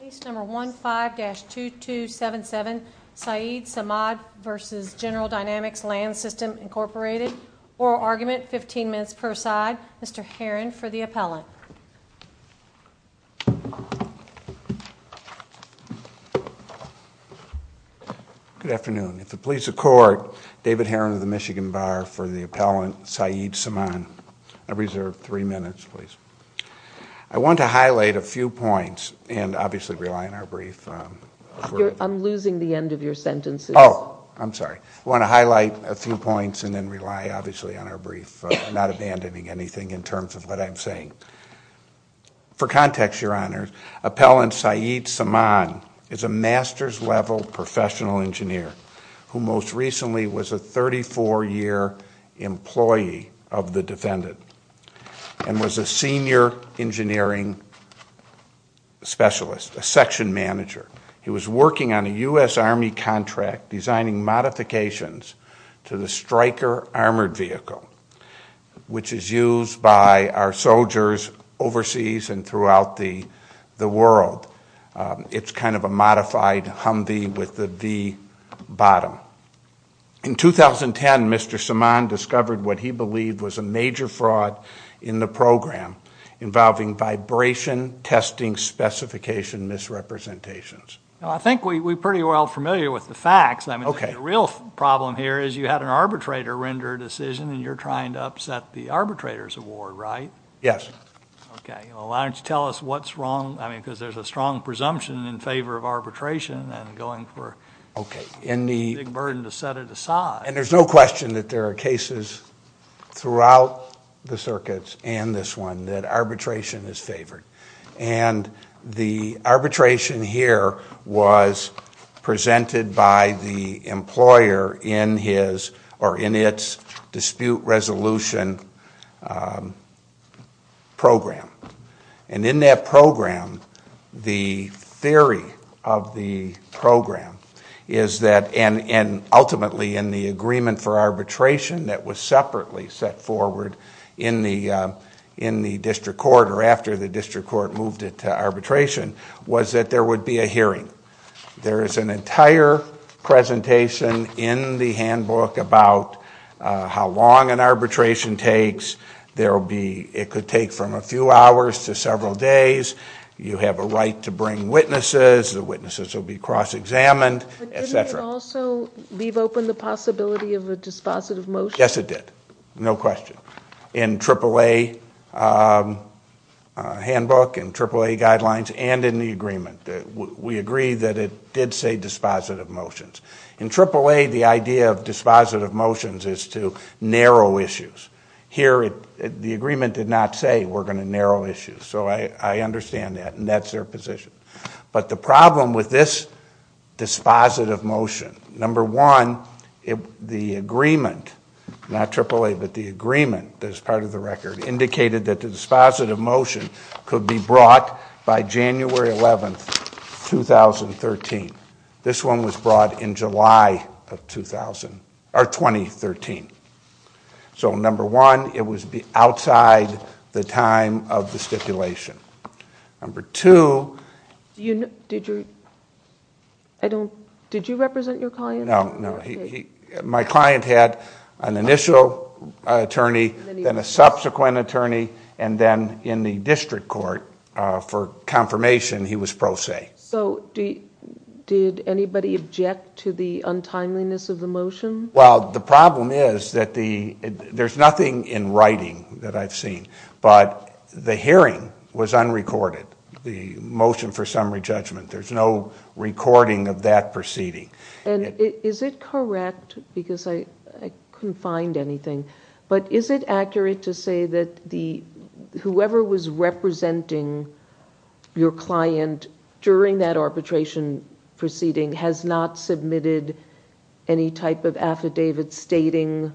Case number 15-2277, Saeed Samaan v. General Dynamics Land Sys Inc. Oral argument, 15 minutes per side. Mr. Herron for the appellant. Good afternoon. At the pleas of court, David Herron of the Michigan Bar for the appellant, Saeed Samaan. I reserve three minutes, please. I want to highlight a few points and obviously rely on our brief. I'm losing the end of your sentences. Oh, I'm sorry. I want to highlight a few points and then rely obviously on our brief. I'm not abandoning anything in terms of what I'm saying. For context, Your Honor, appellant Saeed Samaan is a master's level professional engineer who most recently was a 34-year employee of the defendant and was a senior engineering specialist, a section manager. He was working on a U.S. Army contract designing modifications to the Stryker armored vehicle, which is used by our soldiers overseas and throughout the world. It's kind of a modified Humvee with the V bottom. In 2010, Mr. Samaan discovered what he believed was a major fraud in the program involving vibration testing specification misrepresentations. I think we're pretty well familiar with the facts. The real problem here is you had an arbitrator render a decision and you're trying to upset the arbitrator's award, right? Yes. Why don't you tell us what's wrong, because there's a strong presumption in favor of arbitration. Okay. It's a big burden to set it aside. There's no question that there are cases throughout the circuits and this one that arbitration is favored. The arbitration here was presented by the employer in its dispute resolution program. In that program, the theory of the program is that, and ultimately in the agreement for arbitration that was separately set forward in the district court or after the district court moved it to arbitration, was that there would be a hearing. There is an entire presentation in the handbook about how long an arbitration takes. It could take from a few hours to several days. You have a right to bring witnesses. The witnesses will be cross-examined, et cetera. But didn't it also leave open the possibility of a dispositive motion? Yes, it did. No question. In AAA handbook, in AAA guidelines, and in the agreement. We agree that it did say dispositive motions. In AAA, the idea of dispositive motions is to narrow issues. Here, the agreement did not say we're going to narrow issues. So I understand that and that's their position. But the problem with this dispositive motion, number one, the agreement, not AAA, but the agreement as part of the record indicated that the dispositive motion could be brought by January 11, 2013. This one was brought in July of 2013. Number one, it was outside the time of the stipulation. Number two... Did you represent your client? No. My client had an initial attorney, then a subsequent attorney, and then in the district court, for confirmation, he was pro se. Did anybody object to the untimeliness of the motion? Well, the problem is that there's nothing in writing that I've seen, but the hearing was unrecorded. The motion for summary judgment, there's no recording of that proceeding. Is it correct, because I couldn't find anything, but is it accurate to say that whoever was representing your client during that arbitration proceeding has not submitted any type of affidavit stating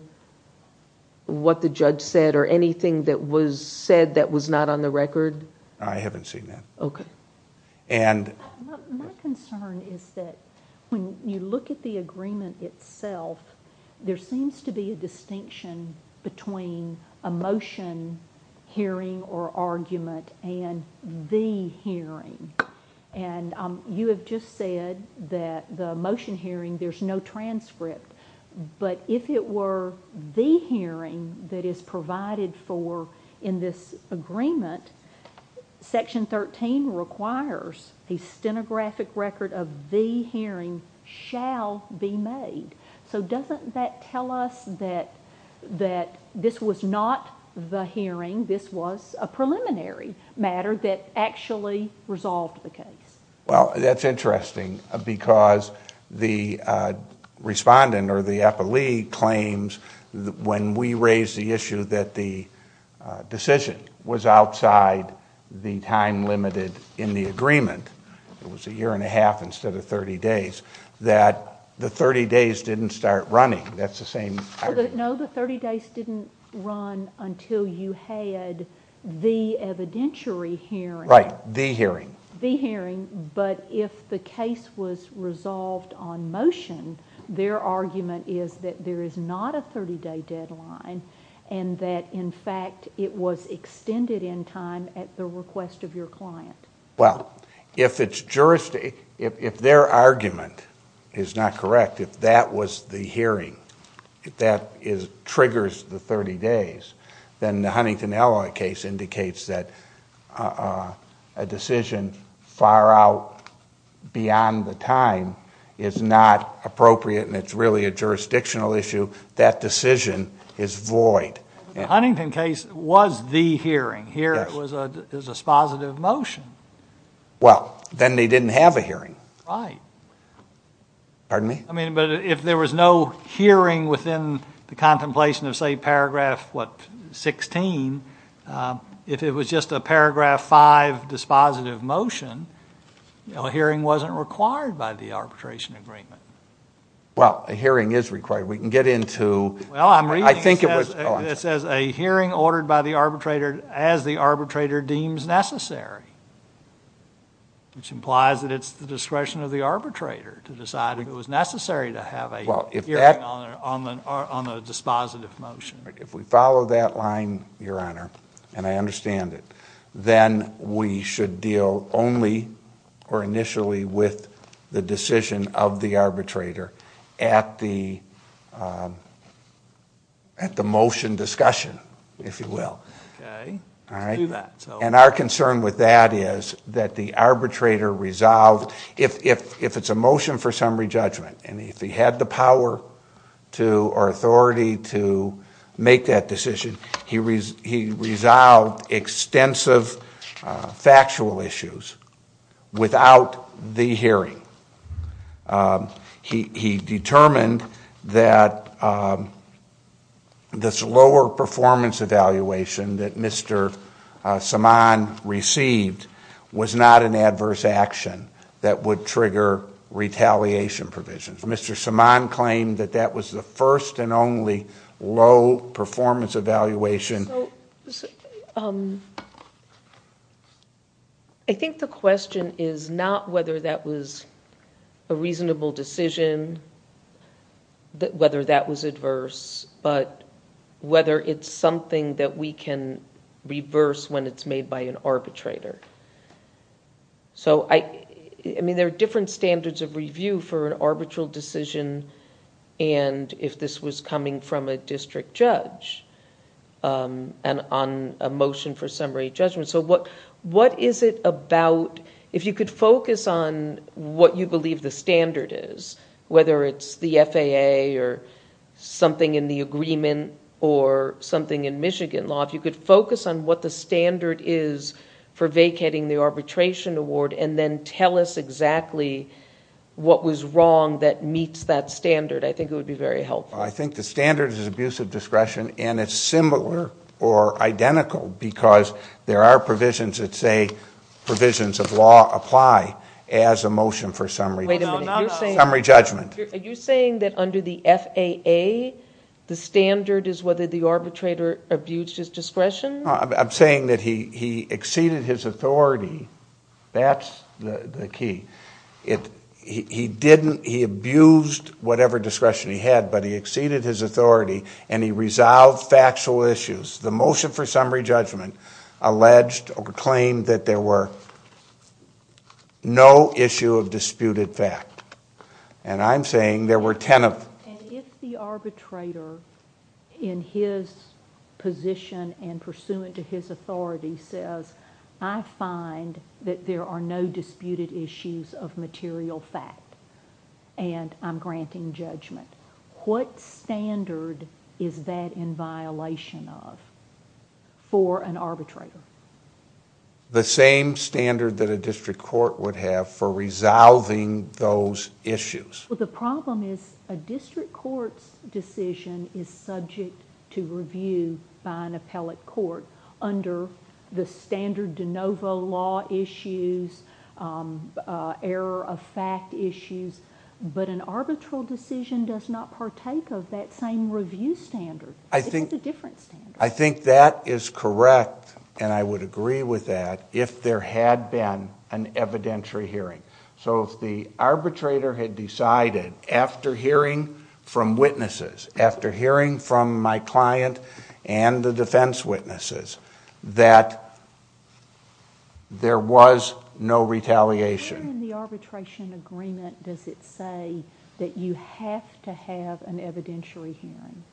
what the judge said or anything that was said that was not on the record? I haven't seen that. Okay. My concern is that when you look at the agreement itself, there seems to be a distinction between a motion hearing or argument and the hearing. You have just said that the motion hearing, there's no transcript, but if it were the hearing that is provided for in this agreement, Section 13 requires a stenographic record of the hearing shall be made. Doesn't that tell us that this was not the hearing, this was a preliminary matter that actually resolved the case? Well, that's interesting because the respondent or the appellee claims when we raised the issue that the decision was outside the time limited in the agreement, it was a year and a half instead of 30 days, that the 30 days didn't start running. That's the same argument. No, the 30 days didn't run until you had the evidentiary hearing. Right, the hearing. The hearing, but if the case was resolved on motion, their argument is that there is not a 30-day deadline and that, in fact, it was extended in time at the request of your client. Well, if their argument is not correct, if that was the hearing, if that triggers the 30 days, then the Huntington Alloy case indicates that a decision far out beyond the time is not appropriate and it's really a jurisdictional issue. That decision is void. The Huntington case was the hearing. Here it was a dispositive motion. Well, then they didn't have a hearing. Right. Pardon me? I mean, but if there was no hearing within the contemplation of, say, Paragraph, what, 16, if it was just a Paragraph 5 dispositive motion, a hearing wasn't required by the arbitration agreement. Well, a hearing is required. We can get into, I think it was, oh, I'm sorry. It says a hearing ordered by the arbitrator as the arbitrator deems necessary, which implies that it's the discretion of the arbitrator to decide if it was necessary to have a hearing on a dispositive motion. If we follow that line, Your Honor, and I understand it, then we should deal only or initially with the decision of the arbitrator at the motion discussion, if you will. Okay. Let's do that. And our concern with that is that the arbitrator resolved, if it's a motion for summary judgment, and if he had the power or authority to make that decision, he resolved extensive factual issues without the hearing. He determined that this lower performance evaluation that Mr. Saman received was not an adverse action that would trigger retaliation provisions. Mr. Saman claimed that that was the first and only low performance evaluation. I think the question is not whether that was a reasonable decision, whether that was adverse, but whether it's something that we can reverse when it's made by an arbitrator. There are different standards of review for an arbitral decision, and if this was coming from a district judge on a motion for summary judgment. What is it about, if you could focus on what you believe the standard is, whether it's the FAA or something in the agreement or something in Michigan law, if you could focus on what the standard is for vacating the arbitration award and then tell us exactly what was wrong that meets that standard, I think it would be very helpful. I think the standard is abuse of discretion, and it's similar or identical because there are provisions that say provisions of law apply as a motion for summary judgment. Are you saying that under the FAA, the standard is whether the arbitrator abused his discretion? I'm saying that he exceeded his authority. That's the key. He abused whatever discretion he had, but he exceeded his authority, and he resolved factual issues. The motion for summary judgment alleged or claimed that there were no issue of disputed fact, and I'm saying there were ten of them. If the arbitrator in his position and pursuant to his authority says, I find that there are no disputed issues of material fact, and I'm granting judgment, what standard is that in violation of for an arbitrator? The same standard that a district court would have for resolving those issues. The problem is a district court's decision is subject to review by an appellate court under the standard de novo law issues, error of fact issues, but an arbitral decision does not partake of that same review standard. It's a different standard. I think that is correct, and I would agree with that if there had been an evidentiary hearing. If the arbitrator had decided after hearing from witnesses, after hearing from my client and the defense witnesses, that there was no retaliation... Where in the arbitration agreement does it say that you have to have an evidentiary hearing?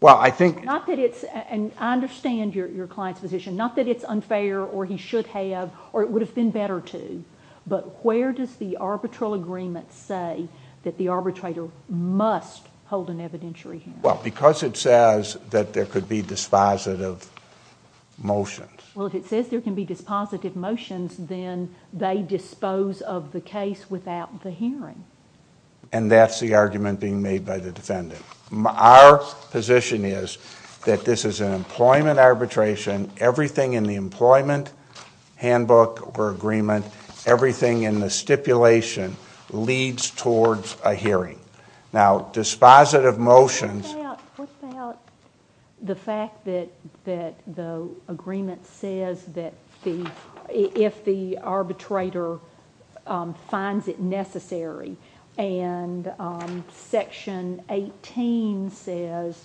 Well, I think... I understand your client's position. Not that it's unfair, or he should have, or it would have been better to, but where does the arbitral agreement say that the arbitrator must hold an evidentiary hearing? Well, because it says that there could be dispositive motions. Well, if it says there can be dispositive motions, then they dispose of the case without the hearing. And that's the argument being made by the defendant. Our position is that this is an employment arbitration. Everything in the employment handbook or agreement, everything in the stipulation, leads towards a hearing. Now, dispositive motions... What about the fact that the agreement says that if the arbitrator finds it necessary, and Section 18 says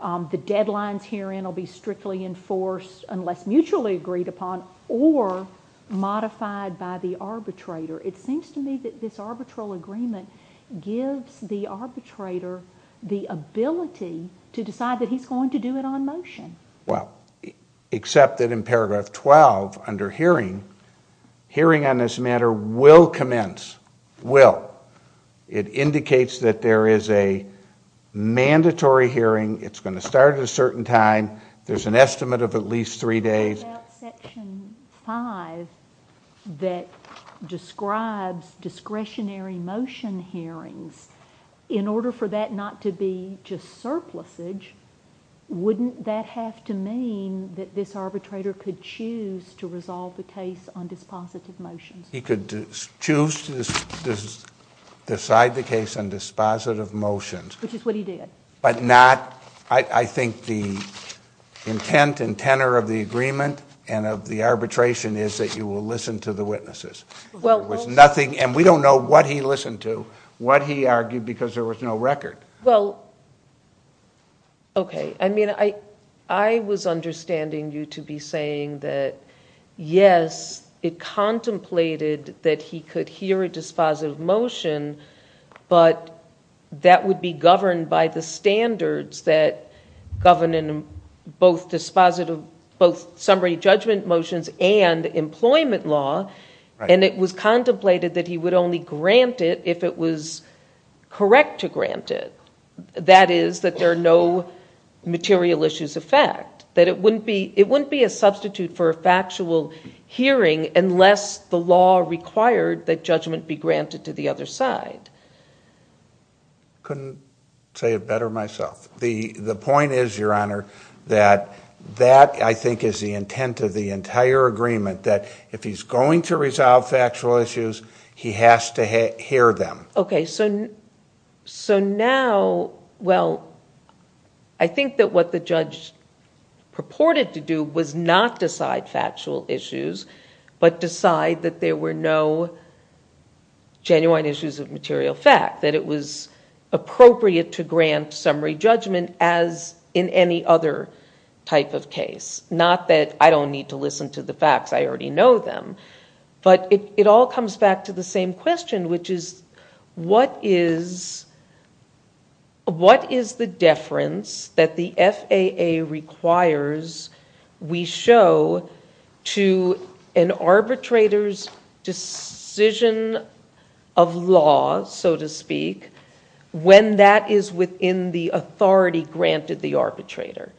the deadlines herein will be strictly enforced unless mutually agreed upon or modified by the arbitrator. It seems to me that this arbitral agreement gives the arbitrator the ability to decide that he's going to do it on motion. Well, except that in paragraph 12, under hearing, hearing on this matter will commence. Will. It indicates that there is a mandatory hearing. It's going to start at a certain time. There's an estimate of at least three days. What about Section 5 that describes discretionary motion hearings? In order for that not to be just surplusage, wouldn't that have to mean that this arbitrator could choose to resolve the case on dispositive motions? He could choose to decide the case on dispositive motions. Which is what he did. I think the intent and tenor of the agreement and of the arbitration is that you will listen to the witnesses. We don't know what he listened to, what he argued, because there was no record. Well, okay. I mean, I was understanding you to be saying that, yes, it contemplated that he could hear a dispositive motion, but that would be governed by the standards that govern both dispositive, both summary judgment motions and employment law. And it was contemplated that he would only grant it if it was correct to grant it. That is, that there are no material issues of fact. That it wouldn't be a substitute for a factual hearing unless the law required that judgment be granted to the other side. Couldn't say it better myself. The point is, Your Honor, that that, I think, is the intent of the entire agreement. That if he's going to resolve factual issues, he has to hear them. Okay, so now, well, I think that what the judge purported to do was not decide factual issues, but decide that there were no genuine issues of material fact. That it was appropriate to grant summary judgment as in any other type of case. Not that I don't need to listen to the facts. I already know them. But it all comes back to the same question, which is, what is the deference that the FAA requires we show to an arbitrator's decision of law, so to speak, when that is within the authority granted the arbitrator?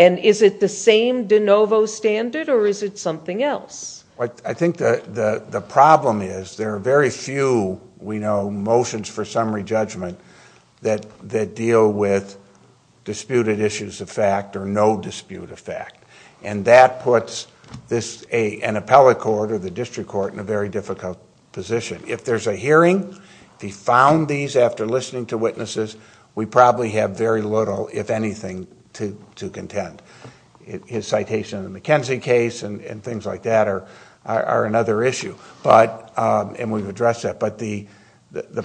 And is it the same de novo standard or is it something else? Well, I think the problem is there are very few, we know, motions for summary judgment that deal with disputed issues of fact or no dispute of fact. And that puts an appellate court or the district court in a very difficult position. If there's a hearing, if he found these after listening to witnesses, we probably have very little, if anything, to contend. His citation of the McKenzie case and things like that are another issue. And we've addressed that. But the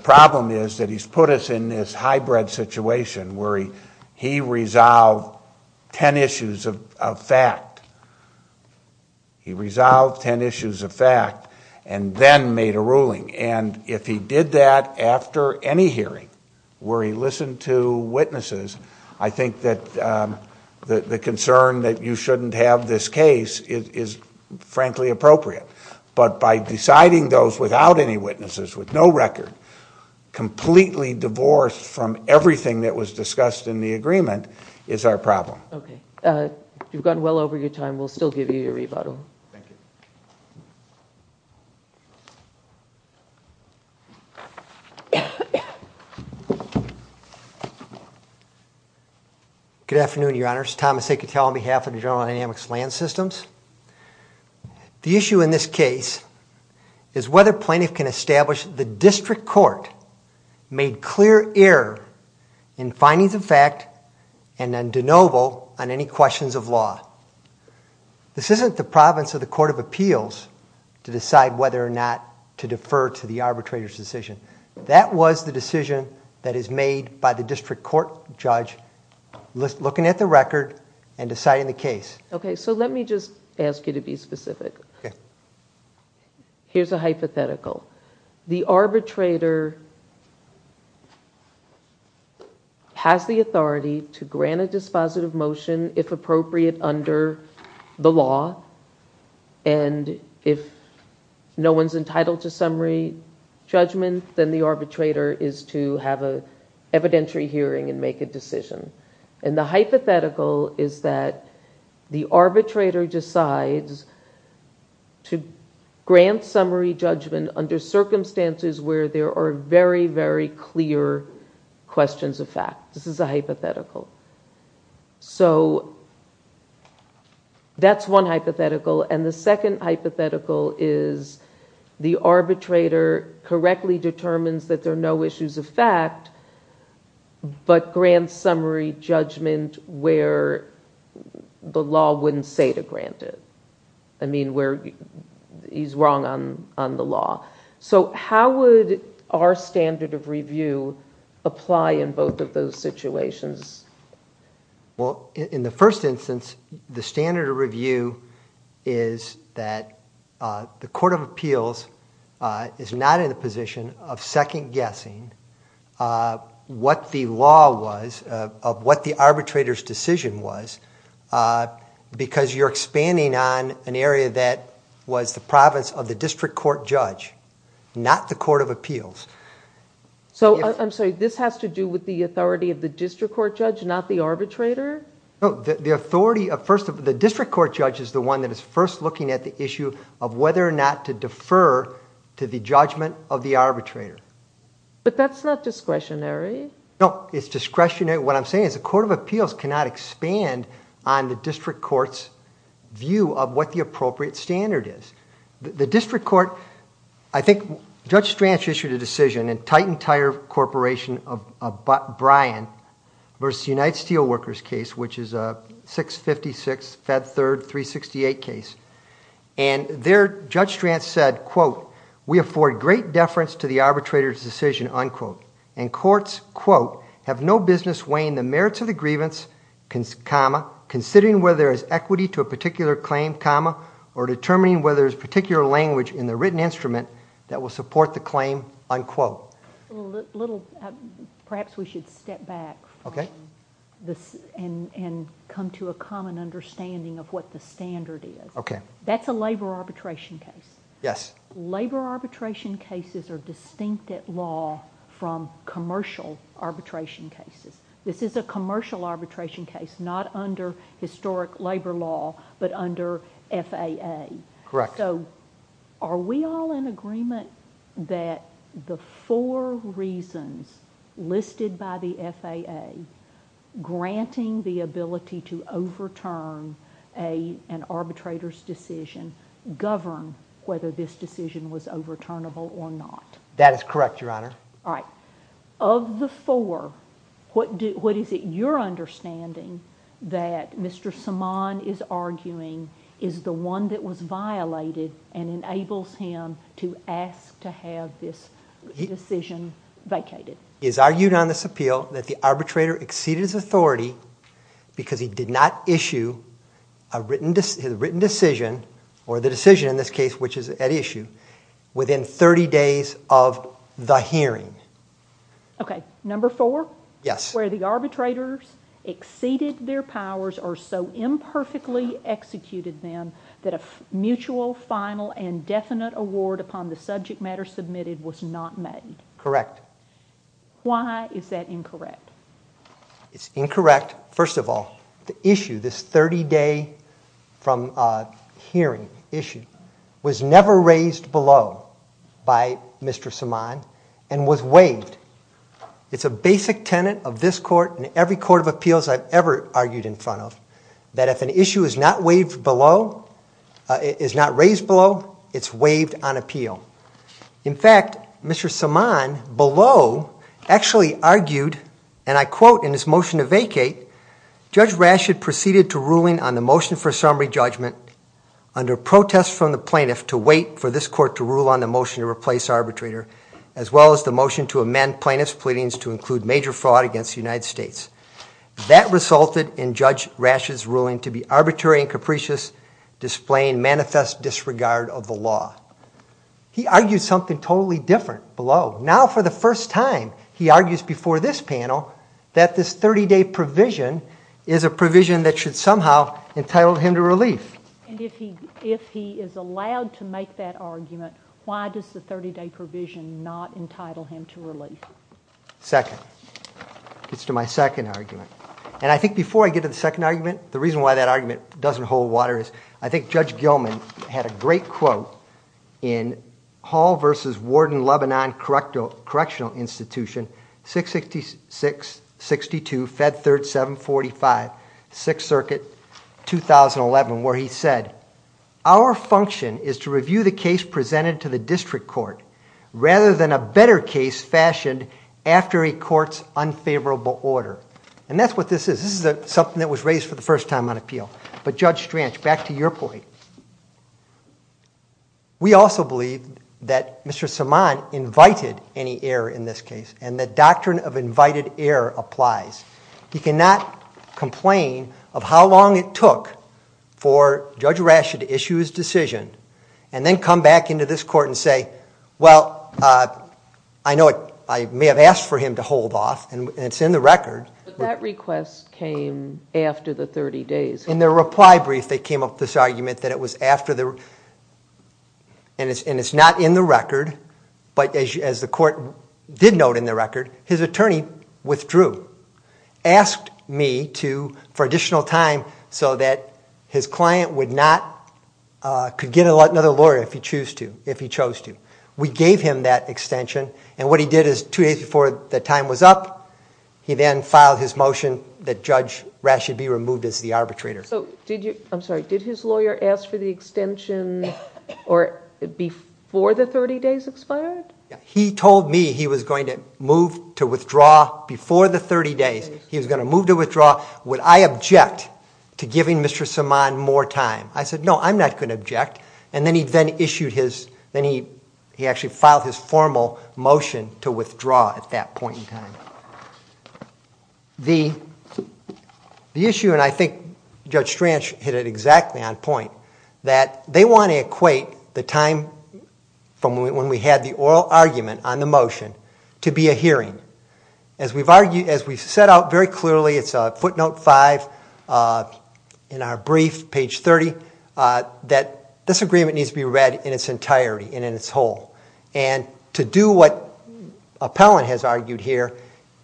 problem is that he's put us in this hybrid situation where he resolved ten issues of fact. He resolved ten issues of fact and then made a ruling. And if he did that after any hearing where he listened to witnesses, I think that the concern that you shouldn't have this case is frankly appropriate. But by deciding those without any witnesses, with no record, completely divorced from everything that was discussed in the agreement is our problem. Okay. You've gone well over your time. We'll still give you your rebuttal. Thank you. Good afternoon, Your Honors. Thomas Acatel on behalf of the General Dynamics Land Systems. The issue in this case is whether plaintiff can establish the district court made clear error in findings of fact and then de novo on any questions of law. This isn't the province of the court of appeals to decide whether or not to defer to the arbitrator's decision. That was the decision that is made by the district court judge looking at the record and deciding the case. Okay. So let me just ask you to be specific. Okay. Here's a hypothetical. The arbitrator has the authority to grant a dispositive motion, if appropriate, under the law. And if no one's entitled to summary judgment, then the arbitrator is to have an evidentiary hearing and make a decision. And the hypothetical is that the arbitrator decides to grant summary judgment under circumstances where there are very, very clear questions of fact. This is a hypothetical. So that's one hypothetical. And the second hypothetical is the arbitrator correctly determines that there are no issues of fact but grants summary judgment where the law wouldn't say to grant it. I mean, where he's wrong on the law. So how would our standard of review apply in both of those situations? Well, in the first instance, the standard of review is that the court of appeals is not in a position of second-guessing what the law was, of what the arbitrator's decision was, because you're expanding on an area that was the province of the district court judge, not the court of appeals. So, I'm sorry, this has to do with the authority of the district court judge, not the arbitrator? No, the authority of, first, the district court judge is the one that is first looking at the issue of whether or not to defer to the judgment of the arbitrator. But that's not discretionary. No, it's discretionary. What I'm saying is the court of appeals cannot expand on the district court's view of what the appropriate standard is. The district court, I think Judge Stranch issued a decision in Titan Tire Corporation of Bryan versus United Steel Workers case, which is a 656, Fed Third, 368 case. And there, Judge Stranch said, quote, we afford great deference to the arbitrator's decision, unquote. And courts, quote, have no business weighing the merits of the grievance, comma, or determining whether there's particular language in the written instrument that will support the claim, unquote. Perhaps we should step back and come to a common understanding of what the standard is. Okay. That's a labor arbitration case. Yes. Labor arbitration cases are distinct at law from commercial arbitration cases. This is a commercial arbitration case, not under historic labor law, but under FAA. Correct. So are we all in agreement that the four reasons listed by the FAA granting the ability to overturn an arbitrator's decision govern whether this decision was overturnable or not? That is correct, Your Honor. All right. Of the four, what is it you're understanding that Mr. Saman is arguing is the one that was violated and enables him to ask to have this decision vacated? He has argued on this appeal that the arbitrator exceeded his authority because he did not issue a written decision, or the decision in this case, which is at issue, within 30 days of the hearing. Okay. Number four? Yes. Where the arbitrators exceeded their powers or so imperfectly executed them that a mutual, final, and definite award upon the subject matter submitted was not made. Correct. Why is that incorrect? It's incorrect, first of all. The issue, this 30-day from hearing issue, was never raised below by Mr. Saman and was waived. It's a basic tenet of this court and every court of appeals I've ever argued in front of, that if an issue is not raised below, it's waived on appeal. In fact, Mr. Saman below actually argued, and I quote in his motion to vacate, Judge Rashid proceeded to ruling on the motion for summary judgment under protest from the plaintiff to wait for this court to rule on the motion to replace arbitrator, as well as the motion to amend plaintiff's pleadings to include major fraud against the United States. That resulted in Judge Rashid's ruling to be arbitrary and capricious, displaying manifest disregard of the law. He argued something totally different below. Now, for the first time, he argues before this panel that this 30-day provision is a provision that should somehow entitle him to relief. If he is allowed to make that argument, why does the 30-day provision not entitle him to relief? Second. It's to my second argument. I think before I get to the second argument, the reason why that argument doesn't hold water is I think Judge Gilman had a great quote in Hall v. Warden-Lebanon Correctional Institution, 666-62, Fed Third 745, 6th Circuit, 2011, where he said, Our function is to review the case presented to the district court rather than a better case fashioned after a court's unfavorable order. And that's what this is. This is something that was raised for the first time on appeal. But, Judge Stranch, back to your point. We also believe that Mr. Saman invited any error in this case, and the doctrine of invited error applies. He cannot complain of how long it took for Judge Rasch to issue his decision and then come back into this court and say, Well, I know I may have asked for him to hold off, and it's in the record. But that request came after the 30 days. In their reply brief, they came up with this argument that it was after the, and it's not in the record, but as the court did note in the record, his attorney withdrew, asked me for additional time so that his client could get another lawyer if he chose to. We gave him that extension, and what he did is two days before the time was up, he then filed his motion that Judge Rasch should be removed as the arbitrator. I'm sorry. Did his lawyer ask for the extension before the 30 days expired? He told me he was going to move to withdraw before the 30 days. He was going to move to withdraw. Would I object to giving Mr. Saman more time? I said, No, I'm not going to object. Then he actually filed his formal motion to withdraw at that point in time. The issue, and I think Judge Stranch hit it exactly on point, that they want to equate the time from when we had the oral argument on the motion to be a hearing. As we set out very clearly, it's footnote 5 in our brief, page 30, that this agreement needs to be read in its entirety and in its whole. To do what Appellant has argued here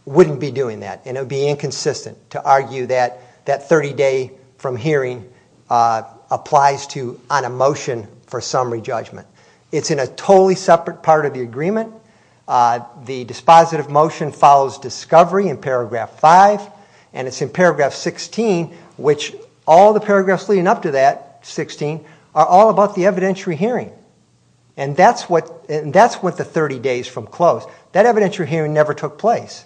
wouldn't be doing that, and it would be inconsistent to argue that that 30-day from hearing applies to on a motion for summary judgment. It's in a totally separate part of the agreement. The dispositive motion follows discovery in paragraph 5, and it's in paragraph 16, which all the paragraphs leading up to that, 16, are all about the evidentiary hearing. That's what the 30 days from close, that evidentiary hearing never took place.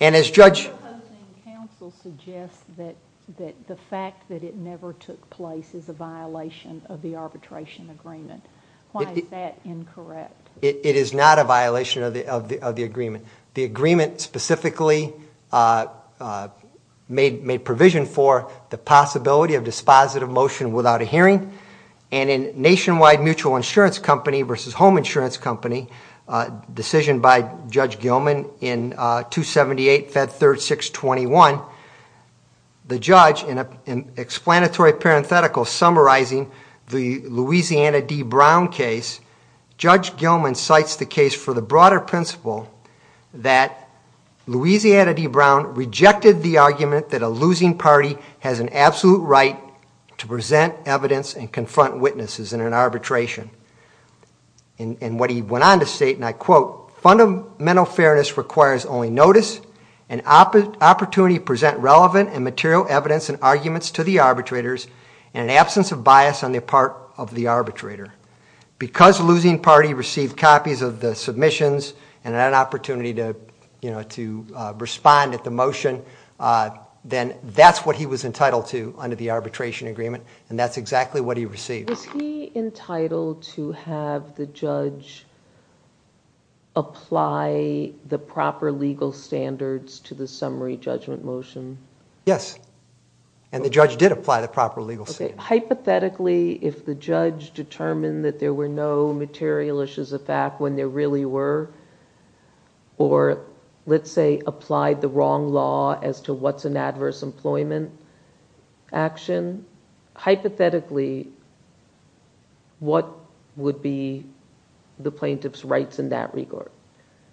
Your opposing counsel suggests that the fact that it never took place is a violation of the arbitration agreement. Why is that incorrect? It is not a violation of the agreement. The agreement specifically made provision for the possibility of dispositive motion without a hearing, and in Nationwide Mutual Insurance Company versus Home Insurance Company, decision by Judge Gilman in 278 Fed 3621, the judge in an explanatory parenthetical summarizing the Louisiana D. Brown case, Judge Gilman cites the case for the broader principle that Louisiana D. Brown rejected the argument that a losing party has an absolute right to present evidence and confront witnesses in an arbitration. And what he went on to state, and I quote, fundamental fairness requires only notice, an opportunity to present relevant and material evidence and arguments to the arbitrators, and an absence of bias on the part of the arbitrator. Because losing party received copies of the submissions and had an opportunity to respond at the motion, then that's what he was entitled to under the arbitration agreement, and that's exactly what he received. Was he entitled to have the judge apply the proper legal standards to the summary judgment motion? Yes, and the judge did apply the proper legal standards. Hypothetically, if the judge determined that there were no material issues of fact when there really were, or let's say applied the wrong law as to what's an adverse employment action, hypothetically, what would be the plaintiff's rights in that regard?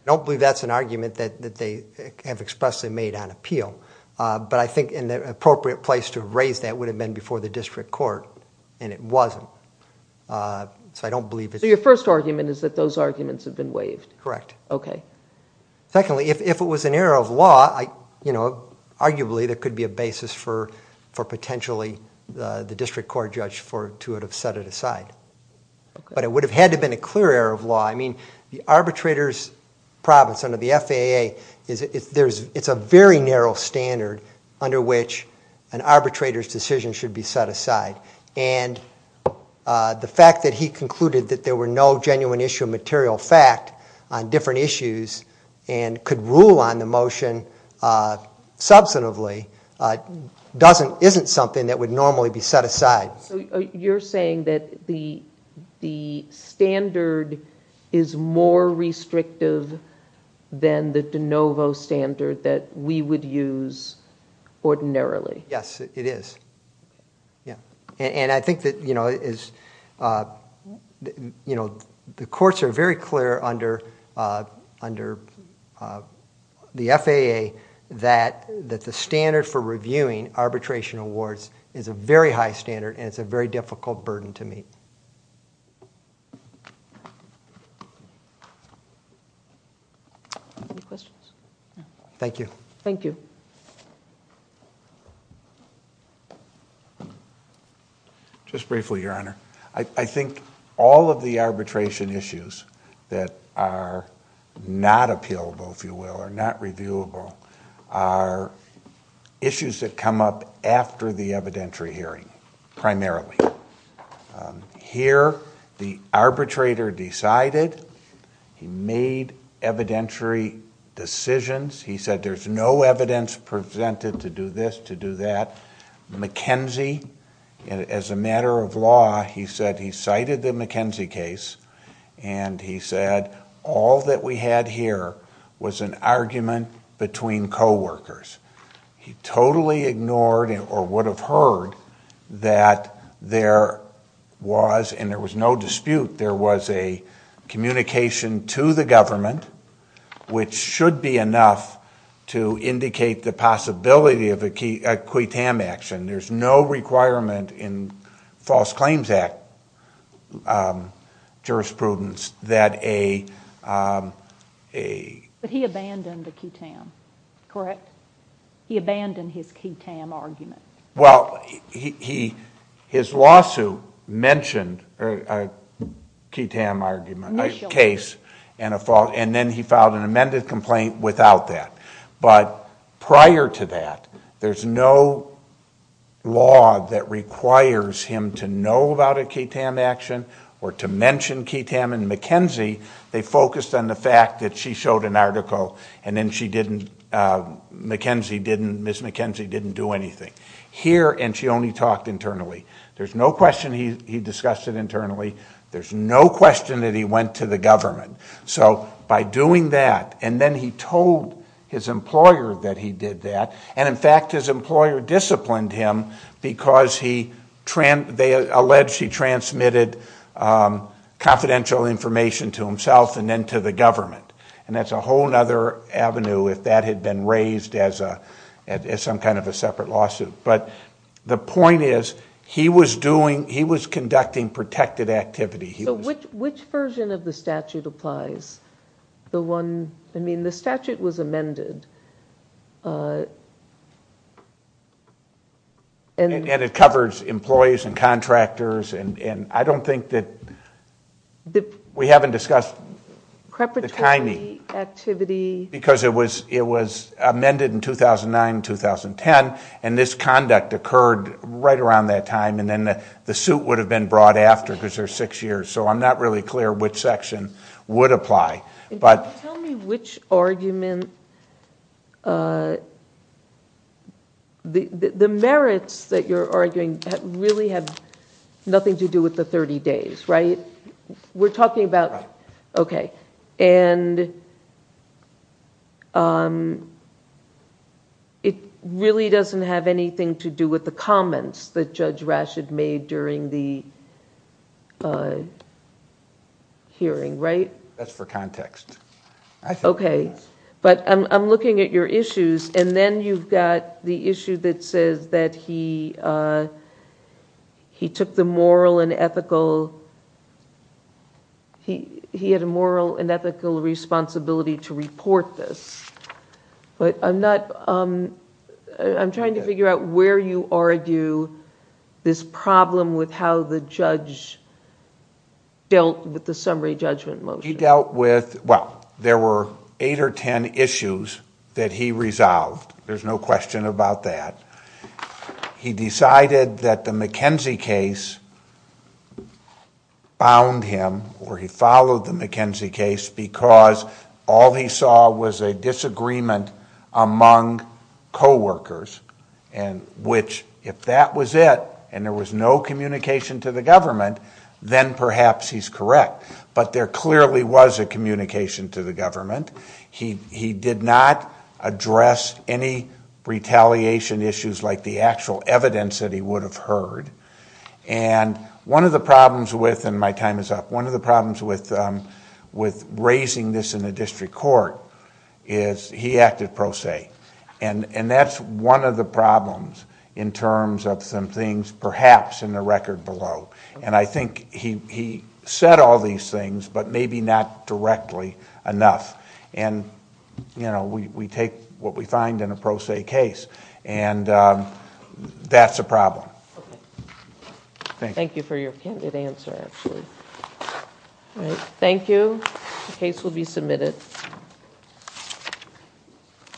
I don't believe that's an argument that they have expressly made on appeal, but I think an appropriate place to raise that would have been before the district court, and it wasn't. So your first argument is that those arguments have been waived? Correct. Secondly, if it was an error of law, arguably there could be a basis for potentially the district court judge to have set it aside. But it would have had to have been a clear error of law. I mean, the arbitrator's province under the FAA, it's a very narrow standard under which an arbitrator's decision should be set aside, and the fact that he concluded that there were no genuine issue of material fact on different issues and could rule on the motion substantively isn't something that would normally be set aside. So you're saying that the standard is more restrictive than the de novo standard that we would use ordinarily? Yes, it is. And I think that the courts are very clear under the FAA that the standard for reviewing arbitration awards is a very high standard, and it's a very difficult burden to meet. Any questions? Thank you. Thank you. Just briefly, Your Honor. I think all of the arbitration issues that are not appealable, if you will, are not reviewable, are issues that come up after the evidentiary hearing, primarily. Here, the arbitrator decided. He made evidentiary decisions. He said there's no evidence presented to do this, to do that. McKenzie, as a matter of law, he said he cited the McKenzie case, and he said all that we had here was an argument between coworkers. He totally ignored or would have heard that there was, and there was no dispute, there was a communication to the government, which should be enough to indicate the possibility of a qui tam action. There's no requirement in False Claims Act jurisprudence that a ---- But he abandoned a qui tam, correct? He abandoned his qui tam argument. Well, his lawsuit mentioned a qui tam argument, a case, and then he filed an amended complaint without that. But prior to that, there's no law that requires him to know about a qui tam action or to mention qui tam, and McKenzie, they focused on the fact that she showed an article and then she didn't, McKenzie didn't, Ms. McKenzie didn't do anything. Here, and she only talked internally. There's no question he discussed it internally. There's no question that he went to the government. So by doing that, and then he told his employer that he did that, and in fact his employer disciplined him because they alleged he transmitted confidential information to himself and then to the government. And that's a whole other avenue if that had been raised as some kind of a separate lawsuit. But the point is he was doing, he was conducting protected activity. So which version of the statute applies? The one, I mean the statute was amended. And it covers employees and contractors, and I don't think that we haven't discussed the timing. Preparatory activity. Because it was amended in 2009, 2010, and this conduct occurred right around that time, and then the suit would have been brought after because there's six years. So I'm not really clear which section would apply. Tell me which argument, the merits that you're arguing really have nothing to do with the 30 days, right? We're talking about, okay. And it really doesn't have anything to do with the comments that Judge Rashid made during the hearing, right? That's for context. Okay. But I'm looking at your issues, and then you've got the issue that says that he took the moral and ethical, he had a moral and ethical responsibility to report this. But I'm trying to figure out where you argue this problem with how the judge dealt with the summary judgment motion. He dealt with... well, there were eight or ten issues that he resolved. There's no question about that. He decided that the McKenzie case bound him, or he followed the McKenzie case, because all he saw was a disagreement among coworkers, which if that was it and there was no communication to the government, then perhaps he's correct. But there clearly was a communication to the government. He did not address any retaliation issues like the actual evidence that he would have heard. And one of the problems with... and my time is up. One of the problems with raising this in a district court is he acted pro se. And that's one of the problems in terms of some things perhaps in the record below. And I think he said all these things, but maybe not directly enough. And we take what we find in a pro se case, and that's a problem. Thank you. Thank you for your candid answer, actually. Thank you. The case will be submitted.